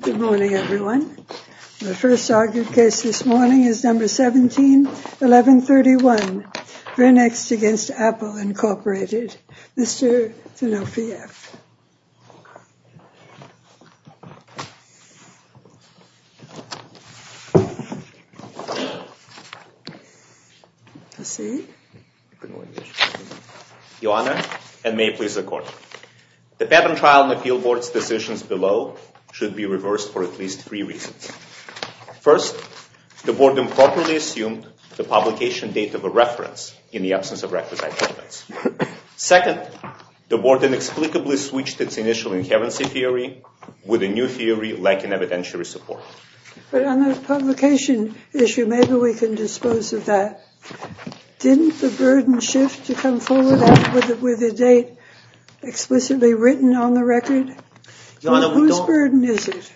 Good morning everyone. The first argued case this morning is No. 17-1131, v. Apple Inc. Mr. Tanofiyev. Your Honor, and may it please the Court. The patent trial and appeal board's decisions below should be reversed for at least three reasons. First, the board improperly assumed the publication date of a reference in the absence of requisite documents. Second, the board inexplicably switched its initial inherency theory with a new theory lacking evidentiary support. But on the publication issue, maybe we can dispose of that. Didn't the burden shift to come forward with a date explicitly written on the record? Well, whose burden is it?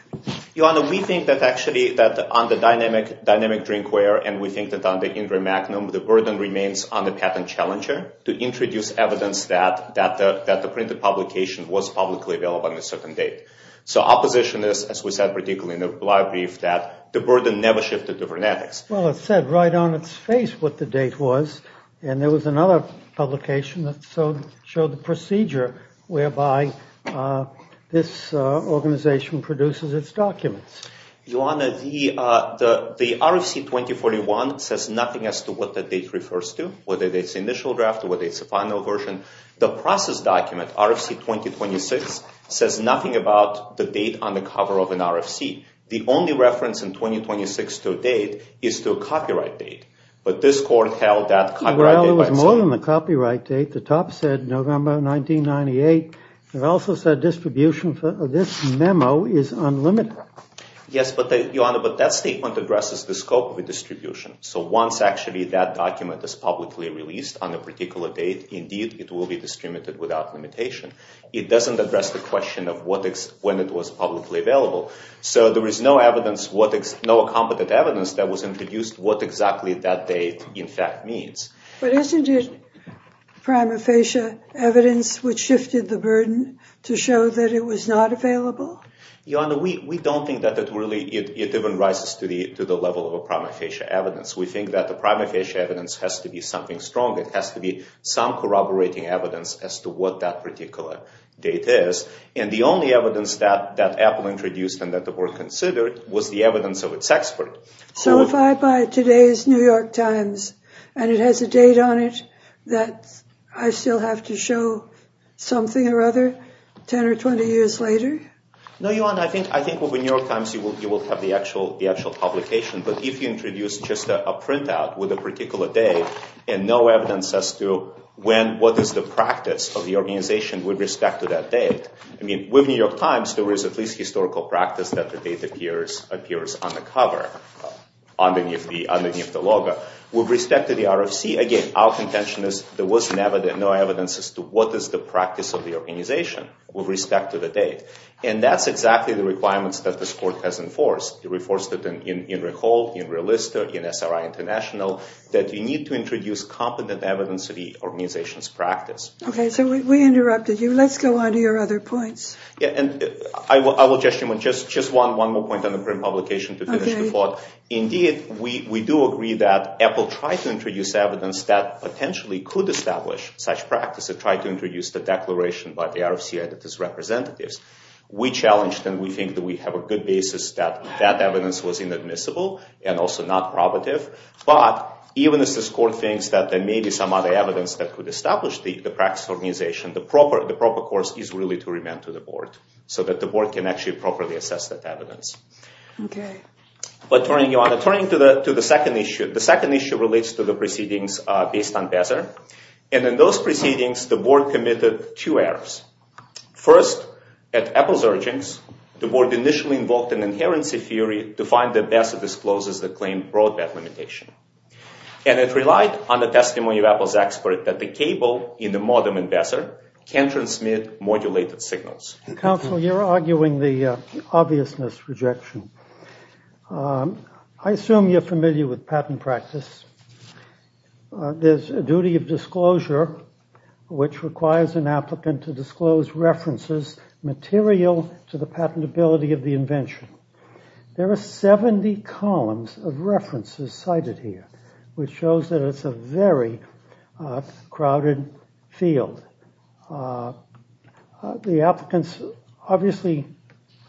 Your Honor, we think that actually on the Dynamic Drinkware and we think that on the Indra Magnum, the burden remains on the patent challenger to introduce evidence that the printed publication was publicly available on a certain date. So our position is, as we said particularly in the brief, that the burden never shifted to VernetX. Well, it said right on its face what the date was. And there was another publication that showed the procedure whereby this organization produces its documents. Your Honor, the RFC-2041 says nothing as to what the date refers to, whether it's initial draft or whether it's a final version. The process document, RFC-2026, says nothing about the date on the cover of an RFC. The only reference in 2026 to a date is to a copyright date. But this court held that copyright date by itself. Well, there was more than a copyright date. The top said November 1998. It also said distribution for this memo is unlimited. Yes, but, Your Honor, but that statement addresses the scope of the distribution. So once actually that document is publicly released on a particular date, indeed, it will be distributed without limitation. It doesn't address the question of when it was publicly available. So there is no evidence, no competent evidence that was introduced what exactly that date in fact means. But isn't it prima facie evidence which shifted the burden to show that it was not available? Your Honor, we don't think that it really, it even rises to the level of a prima facie evidence. We think that the prima facie evidence has to be something strong. It has to be some corroborating evidence as to what that particular date is. And the only evidence that Apple introduced and that were considered was the evidence of its expert. So if I buy today's New York Times and it has a date on it that I still have to show something or other 10 or 20 years later? No, Your Honor, I think with the New York Times you will have the actual publication. But if you introduce just a printout with a particular date and no evidence as to when, then what is the practice of the organization with respect to that date? I mean, with New York Times there is at least historical practice that the date appears on the cover, underneath the logo. With respect to the RFC, again, our contention is there was no evidence as to what is the practice of the organization with respect to the date. And that's exactly the requirements that this Court has enforced. It enforced it in RICO, in Realista, in SRI International, that you need to introduce competent evidence of the organization's practice. Okay, so we interrupted you. Let's go on to your other points. And I will just, just one more point on the print publication to finish the thought. Indeed, we do agree that Apple tried to introduce evidence that potentially could establish such practice and tried to introduce the declaration by the RFC and its representatives. We challenged and we think that we have a good basis that that evidence was inadmissible and also not probative. But even as this Court thinks that there may be some other evidence that could establish the practice of the organization, the proper course is really to remand to the Board so that the Board can actually properly assess that evidence. Okay. But turning to the second issue, the second issue relates to the proceedings based on Bezaer. And in those proceedings, the Board committed two errors. First, at Apple's urgings, the Board initially invoked an inherency theory to find the Bezaer disclosures that claim broadband limitation. And it relied on the testimony of Apple's expert that the cable in the modem in Bezaer can transmit modulated signals. Counsel, you're arguing the obviousness rejection. I assume you're familiar with patent practice. There's a duty of disclosure which requires an applicant to disclose references material to the patentability of the invention. There are 70 columns of references cited here, which shows that it's a very crowded field. The applicants obviously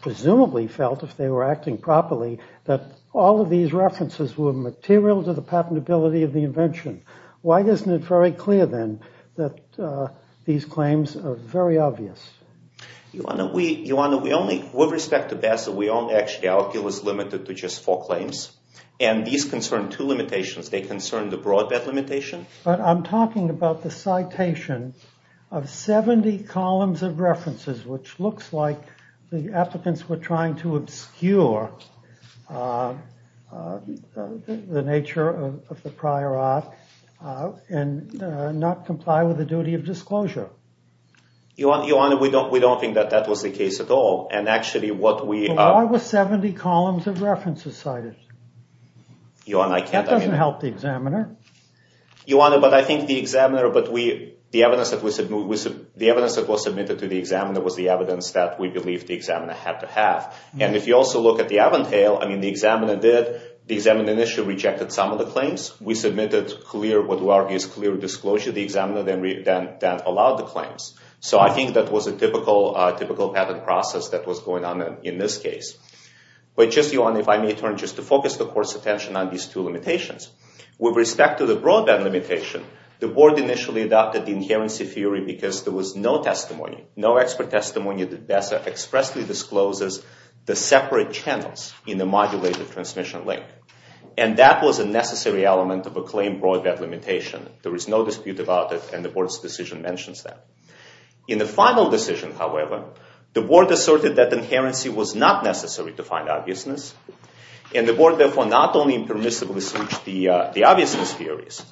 presumably felt, if they were acting properly, that all of these references were material to the patentability of the invention. Why isn't it very clear, then, that these claims are very obvious? Your Honor, we only, with respect to Bezaer, we only actually, our appeal is limited to just four claims. And these concern two limitations. They concern the broadband limitation. But I'm talking about the citation of 70 columns of references, which looks like the applicants were trying to obscure the nature of the prior art and not comply with the duty of disclosure. Your Honor, we don't think that that was the case at all. And actually, what we are... Why were 70 columns of references cited? Your Honor, I can't... That doesn't help the examiner. Your Honor, but I think the examiner... The evidence that was submitted to the examiner was the evidence that we believe the examiner had to have. And if you also look at the Aventail, I mean, the examiner did... The examiner initially rejected some of the claims. We submitted clear, what we argue is clear disclosure to the examiner that allowed the claims. So I think that was a typical patent process that was going on in this case. But just, Your Honor, if I may turn just to focus the Court's attention on these two limitations. With respect to the broadband limitation, the Board initially adopted the inherency theory because there was no testimony, no expert testimony that expressly discloses the separate channels in the modulated transmission link. And that was a necessary element of a claim broadband limitation. There was no dispute about it, and the Board's decision mentions that. In the final decision, however, the Board asserted that inherency was not necessary to find obviousness. And the Board, therefore, not only impermissibly switched the obviousness theories,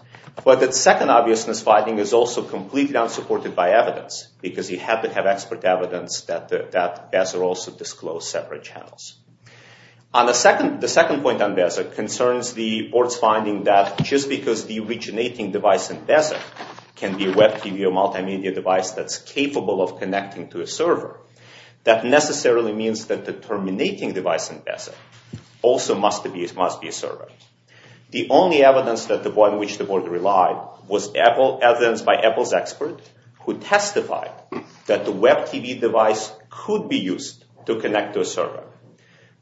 but that second obviousness finding is also completely unsupported by evidence, because you had to have expert evidence that Beza also disclosed separate channels. The second point on Beza concerns the Board's finding that just because the originating device in Beza can be a web TV or multimedia device that's capable of connecting to a server, that necessarily means that the terminating device in Beza also must be a server. The only evidence on which the Board relied was evidence by Apple's expert who testified that the web TV device could be used to connect to a server.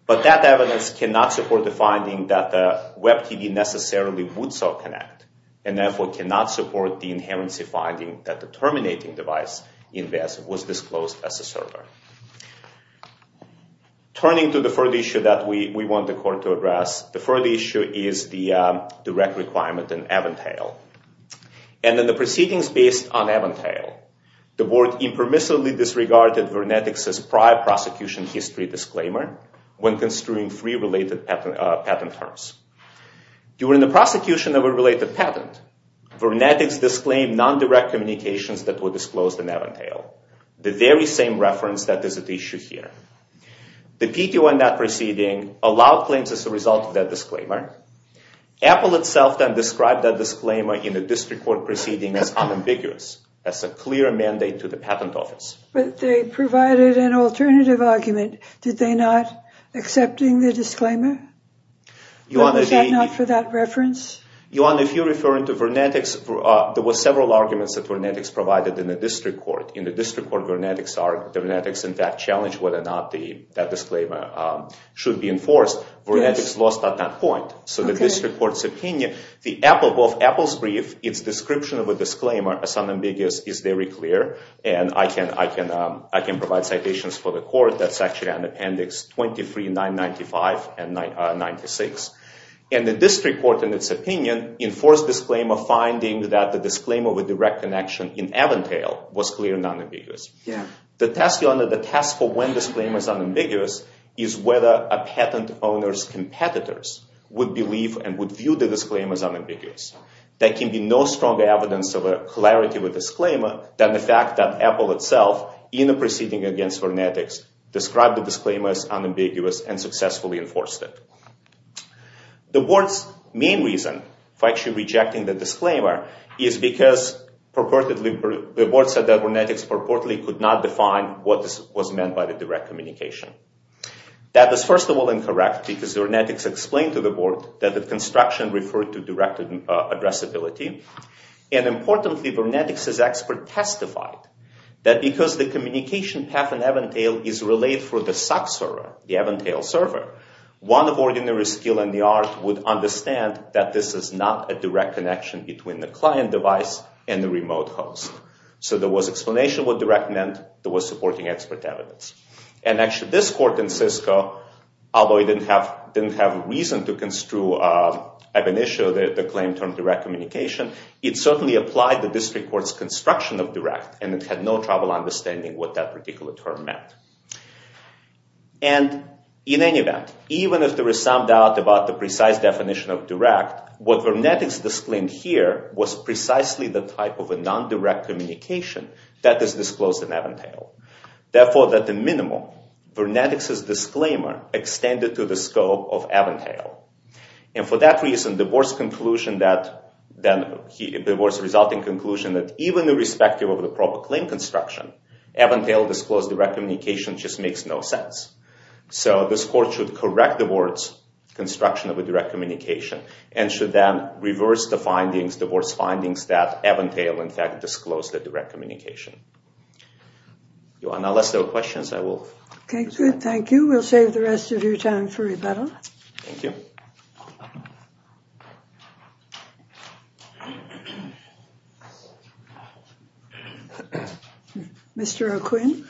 But that evidence cannot support the finding that the web TV necessarily would so connect, and therefore cannot support the inherency finding that the terminating device in Beza was disclosed as a server. Turning to the third issue that we want the Court to address, the third issue is the direct requirement in Aventail. And in the proceedings based on Aventail, the Board impermissibly disregarded Vernetics' prior prosecution history disclaimer when construing three related patent terms. During the prosecution of a related patent, Vernetics disclaimed non-direct communications that were disclosed in Aventail, the very same reference that is at issue here. The PTO in that proceeding allowed claims as a result of that disclaimer. Apple itself then described that disclaimer in a district court proceeding as unambiguous, as a clear mandate to the patent office. But they provided an alternative argument. Did they not, accepting the disclaimer? Was that not for that reference? Ioanna, if you're referring to Vernetics, there were several arguments that Vernetics provided in the district court. In the district court, Vernetics in fact challenged whether or not that disclaimer should be enforced. Vernetics lost at that point. So the district court's opinion, both Apple's brief, its description of a disclaimer as unambiguous is very clear. And I can provide citations for the court. That's actually on Appendix 23, 995 and 96. And the district court, in its opinion, enforced disclaimer, finding that the disclaimer with direct connection in Aventail was clear and unambiguous. The test, Ioanna, the test for when disclaimer is unambiguous is whether a patent owner's competitors would believe and would view the disclaimer as unambiguous. There can be no stronger evidence of a clarity with disclaimer than the fact that Apple itself, in a proceeding against Vernetics, described the disclaimer as unambiguous and successfully enforced it. The board's main reason for actually rejecting the disclaimer is because purportedly, the board said that Vernetics purportedly could not define what was meant by the direct communication. That was first of all incorrect because Vernetics explained to the board that the construction referred to direct addressability. And importantly, Vernetics' expert testified that because the communication path in Aventail is relayed through the SOC server, the Aventail server, one of ordinary skill and the art would understand that this is not a direct connection between the client device and the remote host. So there was explanation what direct meant. There was supporting expert evidence. And actually, this court in Cisco, although it didn't have reason to construe Aventail, the claim term direct communication, it certainly applied the district court's construction of direct and it had no trouble understanding what that particular term meant. And in any event, even if there is some doubt about the precise definition of direct, what Vernetics disclaimed here was precisely the type of a non-direct communication that is disclosed in Aventail. Therefore, at the minimum, Vernetics' disclaimer extended to the scope of Aventail. And for that reason, the board's conclusion that, the board's resulting conclusion that even irrespective of the proper claim construction, Aventail disclosed direct communication just makes no sense. So this court should correct the board's construction of a direct communication and should then reverse the board's findings that Aventail, in fact, disclosed the direct communication. Unless there are questions, I will. Okay, good. Thank you. We'll save the rest of your time for rebuttal. Thank you. Mr. O'Quinn.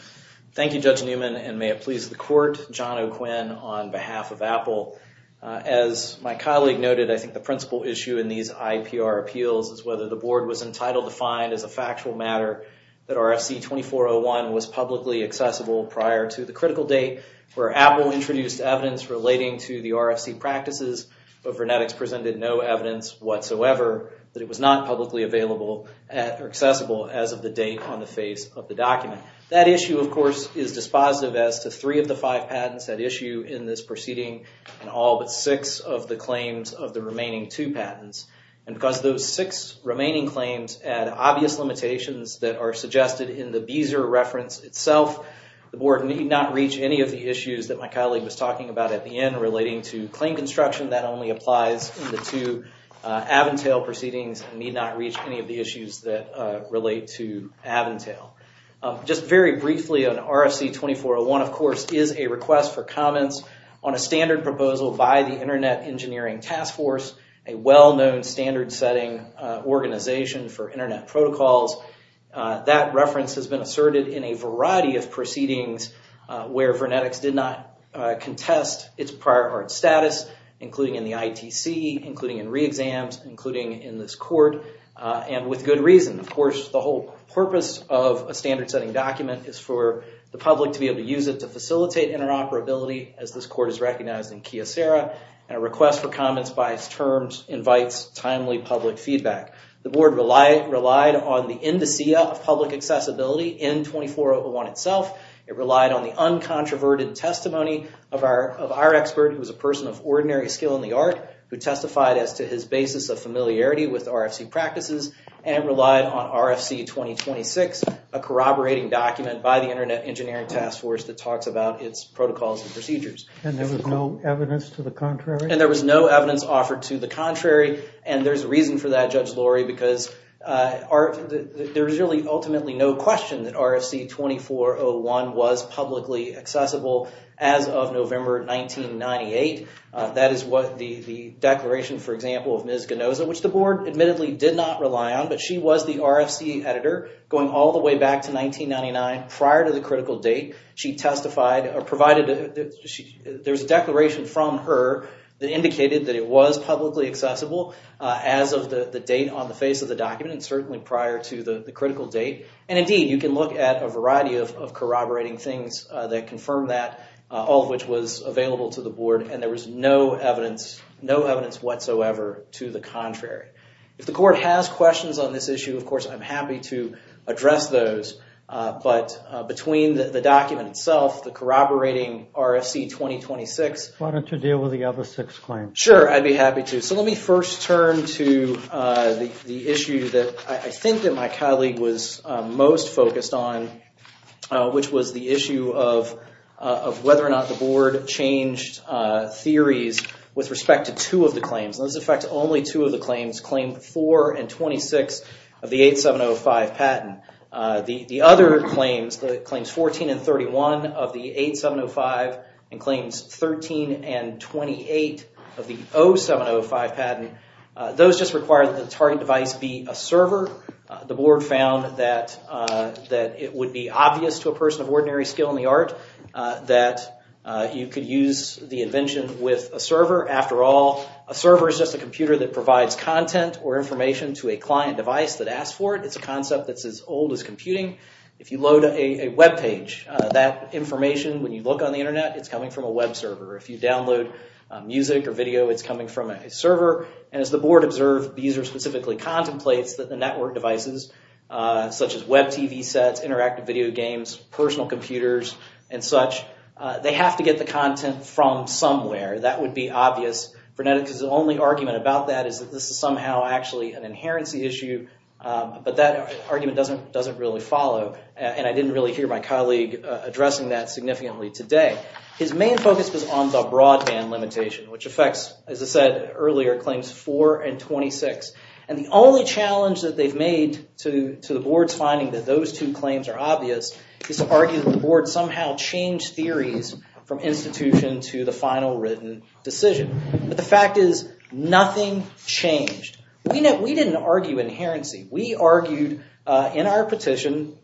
Thank you, Judge Newman, and may it please the court. John O'Quinn on behalf of Apple. As my colleague noted, I think the principal issue in these IPR appeals is whether the board was entitled to find as a factual matter that RFC 2401 was publicly accessible prior to the critical date where Apple introduced evidence relating to the RFC practices. But Vernetics presented no evidence whatsoever that it was not publicly available or accessible as of the date on the face of the document. That issue, of course, is dispositive as to three of the five patents at issue in this proceeding and all but six of the claims of the remaining two patents. And because those six remaining claims add obvious limitations that are suggested in the Beezer reference itself, the board need not reach any of the issues that my colleague was talking about at the end relating to claim construction. That only applies in the two Aventail proceedings and need not reach any of the issues that relate to Aventail. Just very briefly, an RFC 2401, of course, is a request for comments on a standard proposal by the Internet Engineering Task Force, a well-known standard-setting organization for Internet protocols. That reference has been asserted in a variety of proceedings where Vernetics did not contest its prior art status, including in the ITC, including in re-exams, including in this court, and with good reason. Of course, the whole purpose of a standard-setting document is for the public to be able to use it to facilitate interoperability, as this court has recognized in Kyocera, and a request for comments by its terms invites timely public feedback. The board relied on the indicia of public accessibility in 2401 itself. It relied on the uncontroverted testimony of our expert, who is a person of ordinary skill in the art, who testified as to his basis of familiarity with RFC practices, and relied on RFC 2026, a corroborating document by the Internet Engineering Task Force that talks about its protocols and procedures. And there was no evidence to the contrary? And there was no evidence offered to the contrary, and there's reason for that, Judge Lurie, because there's really ultimately no question that RFC 2401 was publicly accessible as of November 1998. That is what the declaration, for example, of Ms. Genoza, which the board admittedly did not rely on, but she was the RFC editor going all the way back to 1999 prior to the critical date. She testified, or provided, there's a declaration from her that indicated that it was publicly accessible as of the date on the face of the document, and certainly prior to the critical date. And indeed, you can look at a variety of corroborating things that confirm that, all of which was available to the board, and there was no evidence, no evidence whatsoever to the contrary. If the court has questions on this issue, of course, I'm happy to address those. But between the document itself, the corroborating RFC 2026- Why don't you deal with the other six claims? Sure, I'd be happy to. So let me first turn to the issue that I think that my colleague was most focused on, which was the issue of whether or not the board changed theories with respect to two of the claims. And this affects only two of the claims, Claim 4 and 26 of the 8705 patent. The other claims, Claims 14 and 31 of the 8705, and Claims 13 and 28 of the 0705 patent, those just require that the target device be a server. The board found that it would be obvious to a person of ordinary skill in the art that you could use the invention with a server. After all, a server is just a computer that provides content or information to a client device that asks for it. It's a concept that's as old as computing. If you load a web page, that information, when you look on the Internet, it's coming from a web server. If you download music or video, it's coming from a server. And as the board observed, the user specifically contemplates that the network devices, such as web TV sets, interactive video games, personal computers, and such, they have to get the content from somewhere. That would be obvious. Vernetica's only argument about that is that this is somehow actually an inherency issue, but that argument doesn't really follow, and I didn't really hear my colleague addressing that significantly today. His main focus was on the broadband limitation, which affects, as I said earlier, Claims 4 and 26. And the only challenge that they've made to the board's finding that those two claims are obvious is to argue that the board somehow changed theories from institution to the final written decision. But the fact is, nothing changed. We didn't argue inherency. We argued in our petition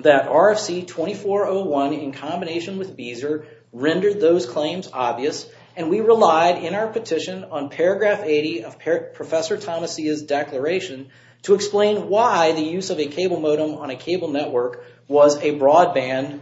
that RFC 2401 in combination with Beezer rendered those claims obvious, and we relied in our petition on paragraph 80 of Professor Thomasia's declaration to explain why the use of a cable modem on a cable network was a broadband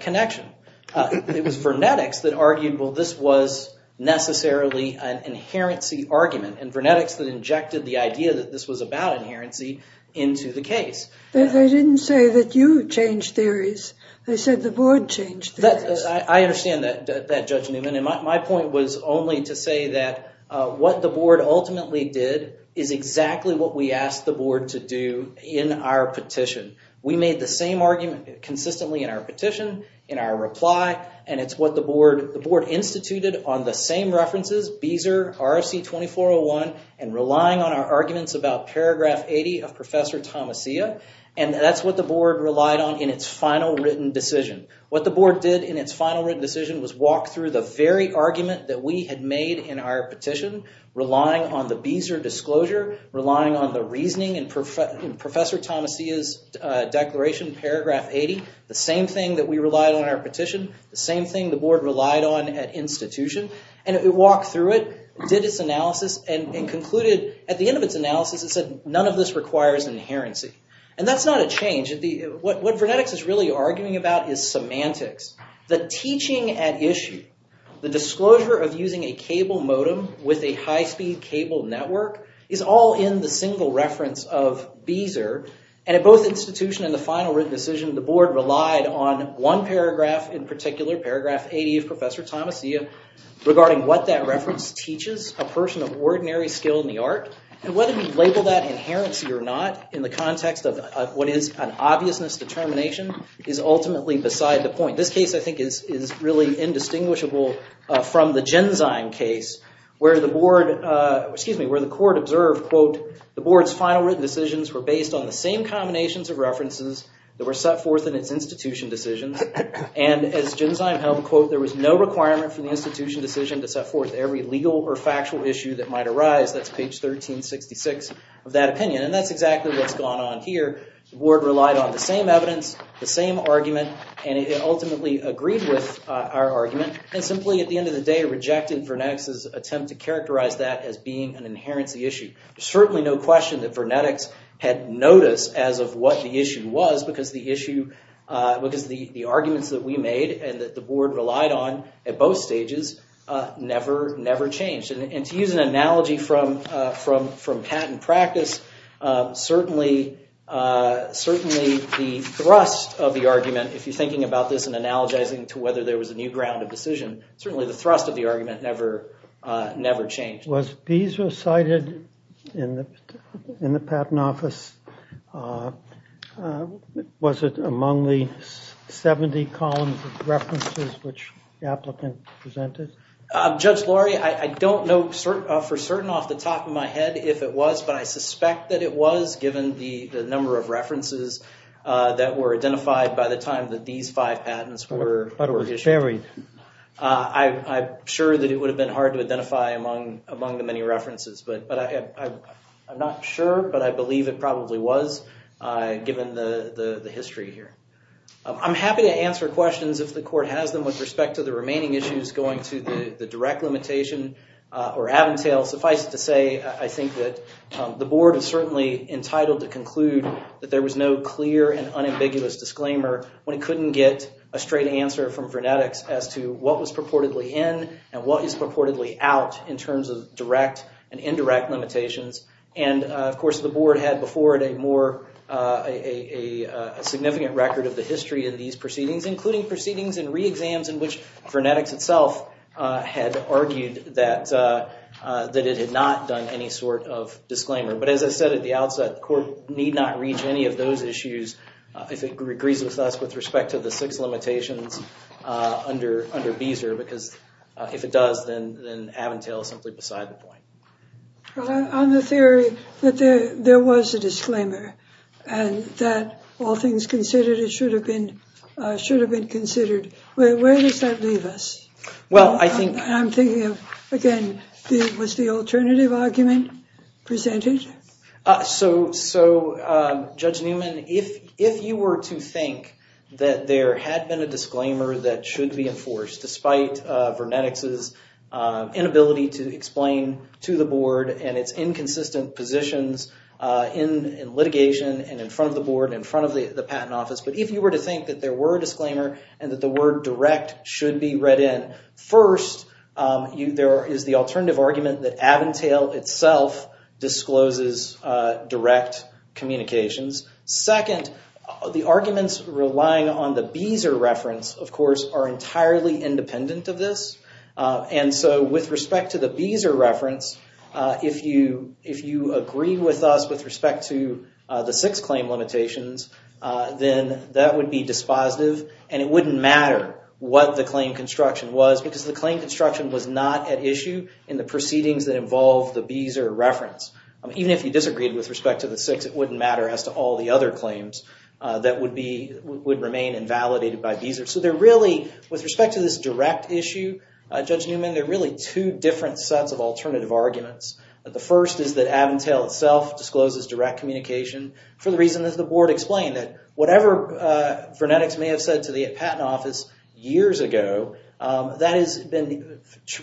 connection. It was Vernetica's that argued, well, this was necessarily an inherency argument, and Vernetica's that injected the idea that this was about inherency into the case. They didn't say that you changed theories. They said the board changed theories. I understand that, Judge Newman, and my point was only to say that what the board ultimately did is exactly what we asked the board to do in our petition. We made the same argument consistently in our petition, in our reply, and it's what the board instituted on the same references, Beezer, RFC 2401, and relying on our arguments about paragraph 80 of Professor Thomasia, and that's what the board relied on in its final written decision. What the board did in its final written decision was walk through the very argument that we had made in our petition, relying on the Beezer disclosure, relying on the reasoning in Professor Thomasia's declaration, paragraph 80, the same thing that we relied on in our petition, the same thing the board relied on at institution, and it walked through it, did its analysis, and concluded at the end of its analysis, it said none of this requires inherency, and that's not a change. What Vernetics is really arguing about is semantics. The teaching at issue, the disclosure of using a cable modem with a high-speed cable network, is all in the single reference of Beezer, and at both institution and the final written decision, the board relied on one paragraph in particular, paragraph 80 of Professor Thomasia, regarding what that reference teaches a person of ordinary skill in the art, and whether we label that inherency or not, in the context of what is an obviousness determination, is ultimately beside the point. This case, I think, is really indistinguishable from the Genzyme case, where the board, excuse me, where the court observed, quote, the board's final written decisions were based on the same combinations of references that were set forth in its institution decisions, and as Genzyme held, quote, there was no requirement for the institution decision to set forth every legal or factual issue that might arise, that's page 1366 of that opinion, and that's exactly what's gone on here. The board relied on the same evidence, the same argument, and it ultimately agreed with our argument, and simply, at the end of the day, rejected Vernetics' attempt to characterize that as being an inherency issue. There's certainly no question that Vernetics had notice as of what the issue was, because the arguments that we made, and that the board relied on at both stages, never changed. And to use an analogy from patent practice, certainly the thrust of the argument, if you're thinking about this and analogizing to whether there was a new ground of decision, certainly the thrust of the argument never changed. Was these recited in the patent office? Was it among the 70 columns of references which the applicant presented? Judge Laurie, I don't know for certain off the top of my head if it was, but I suspect that it was, given the number of references that were identified by the time that these five patents were issued. But were varied. I'm sure that it would have been hard to identify among the many references, but I'm not sure, but I believe it probably was, given the history here. I'm happy to answer questions if the court has them with respect to the remaining issues going to the direct limitation or Aventail. Suffice it to say, I think that the board is certainly entitled to conclude that there was no clear and unambiguous disclaimer when it couldn't get a straight answer from Vernetics as to what was purportedly in, and what is purportedly out in terms of direct and indirect limitations. And, of course, the board had before it a significant record of the history of these proceedings, including proceedings and re-exams in which Vernetics itself had argued that it had not done any sort of disclaimer. But as I said at the outset, the court need not reach any of those issues if it agrees with us with respect to the six limitations under Beezer. Because if it does, then Aventail is simply beside the point. On the theory that there was a disclaimer, and that all things considered, it should have been considered, where does that leave us? Well, I think... I'm thinking of, again, was the alternative argument presented? So, Judge Newman, if you were to think that there had been a disclaimer that should be enforced, despite Vernetics' inability to explain to the board and its inconsistent positions in litigation, and in front of the board, and in front of the patent office, but if you were to think that there were a disclaimer, and that the word direct should be read in, first, there is the alternative argument that Aventail itself discloses direct communications. Second, the arguments relying on the Beezer reference, of course, are entirely independent of this. And so, with respect to the Beezer reference, if you agree with us with respect to the six claim limitations, then that would be dispositive, and it wouldn't matter what the claim construction was, because the claim construction was not at issue in the proceedings that involve the Beezer reference. Even if you disagreed with respect to the six, it wouldn't matter as to all the other claims that would remain invalidated by Beezer. So, with respect to this direct issue, Judge Newman, there are really two different sets of alternative arguments. The first is that Aventail itself discloses direct communication for the reason that the board explained, that whatever Vernetics may have said to the patent office years ago, that has been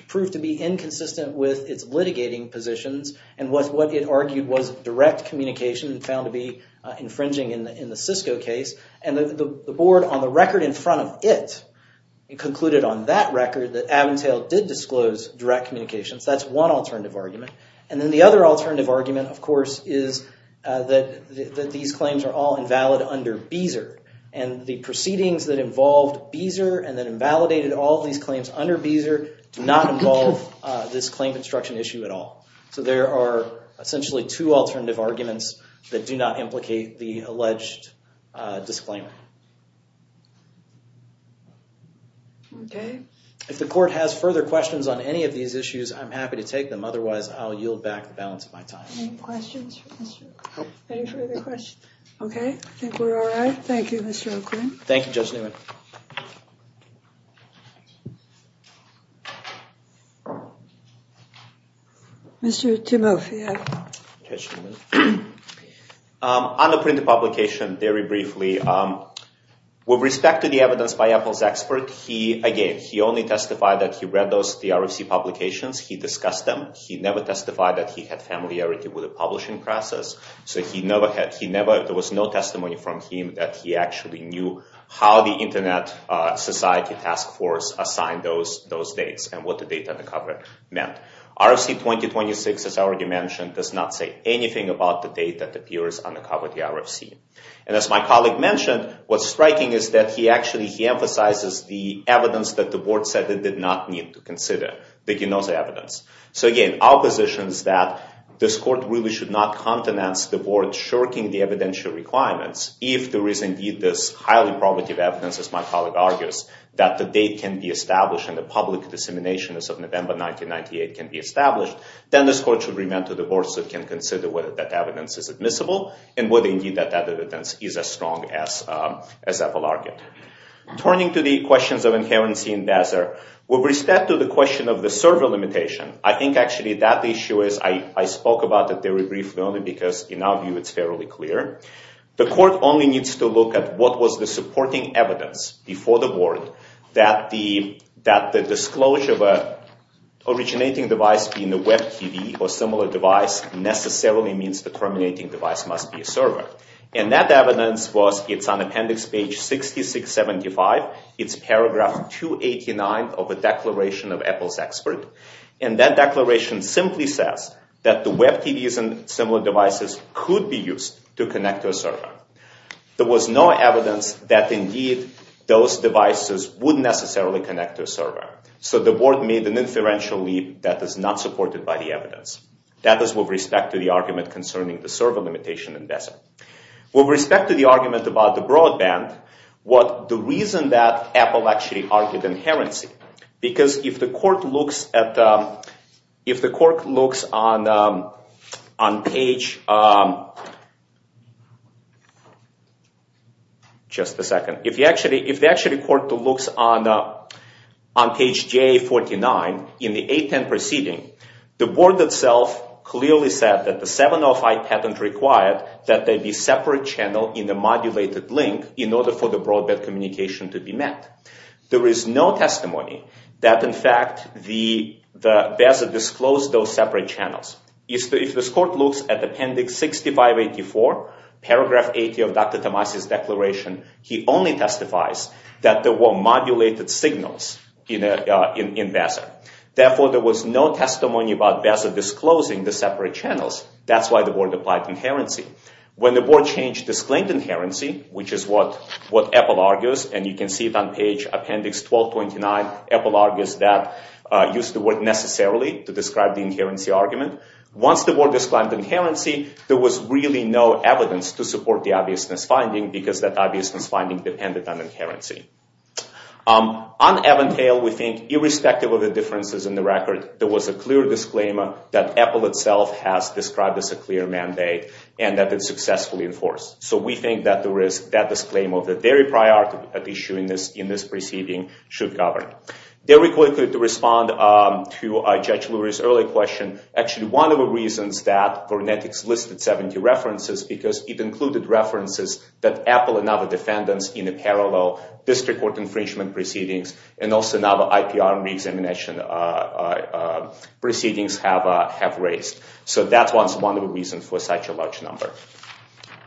proved to be inconsistent with its litigating positions, and what it argued was direct communication found to be infringing in the Cisco case. And the board, on the record in front of it, concluded on that record that Aventail did disclose direct communications. That's one alternative argument. And then the other alternative argument, of course, is that these claims are all invalid under Beezer. And the proceedings that involved Beezer, and that invalidated all these claims under Beezer, do not involve this claim construction issue at all. So, there are essentially two alternative arguments that do not implicate the alleged disclaimer. Okay. If the court has further questions on any of these issues, I'm happy to take them. Otherwise, I'll yield back the balance of my time. Any questions? Nope. Any further questions? Okay. I think we're all right. Thank you, Mr. O'Quinn. Thank you, Judge Newman. Mr. Timofey. Judge Timofey. On the printed publication, very briefly, with respect to the evidence by Apple's expert, again, he only testified that he read the RFC publications. He discussed them. He never testified that he had familiarity with the publishing process. There was no testimony from him that he actually knew how the Internet Society Task Force assigned those dates and what the date on the cover meant. RFC-2026, as I already mentioned, does not say anything about the date that appears on the cover of the RFC. And as my colleague mentioned, what's striking is that he actually emphasizes the evidence that the board said they did not need to consider, the Genoza evidence. So, again, our position is that this court really should not countenance the board shirking the evidential requirements if there is indeed this highly probative evidence, as my colleague argues, that the date can be established and the public dissemination as of November 1998 can be established, then this court should remand to the board so it can consider whether that evidence is admissible and whether, indeed, that evidence is as strong as Apple argued. Turning to the questions of inherency in DASR, with respect to the question of the server limitation, I think, actually, that issue is, I spoke about it very briefly only because, in our view, it's fairly clear. The court only needs to look at what was the supporting evidence before the board that the disclosure of an originating device being a Web TV or similar device necessarily means the terminating device must be a server. And that evidence was, it's on appendix page 6675, it's paragraph 289 of the declaration of Apple's expert. And that declaration simply says that the Web TVs and similar devices could be used to connect to a server. There was no evidence that, indeed, those devices would necessarily connect to a server. So the board made an inferential leap that is not supported by the evidence. That is with respect to the argument concerning the server limitation in DASR. With respect to the argument about the broadband, what the reason that Apple actually argued inherency, because if the court looks at, if the court looks on page, just a second, if actually the court looks on page J49 in the 810 proceeding, the board itself clearly said that the 705 patent required that there be separate channel in a modulated link in order for the broadband communication to be met. There is no testimony that, in fact, the DASR disclosed those separate channels. If this court looks at appendix 6584, paragraph 80 of Dr. Tomasi's declaration, he only testifies that there were modulated signals in DASR. Therefore, there was no testimony about DASR disclosing the separate channels. That's why the board applied inherency. When the board changed the disclaimed inherency, which is what Apple argues, and you can see it on page appendix 1229, Apple argues that, used the word necessarily to describe the inherency argument. Once the board disclaimed inherency, there was really no evidence to support the obviousness finding because that obviousness finding depended on inherency. On Aventail, we think, irrespective of the differences in the record, there was a clear disclaimer that Apple itself has described as a clear mandate and that it's successfully enforced. So we think that that disclaimer, the very priority issue in this proceeding, should govern. There we quickly could respond to Judge Lurie's earlier question. Actually, one of the reasons that Fornetics listed 70 references is because it included references that Apple and other defendants in the parallel district court infringement proceedings and also in other IPR and re-examination proceedings have raised. So that's one of the reasons for such a large number.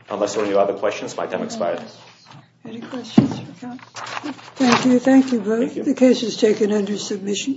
Unless there are any other questions, my time expires. Any questions for counsel? Thank you. Thank you both. The case is taken under submission.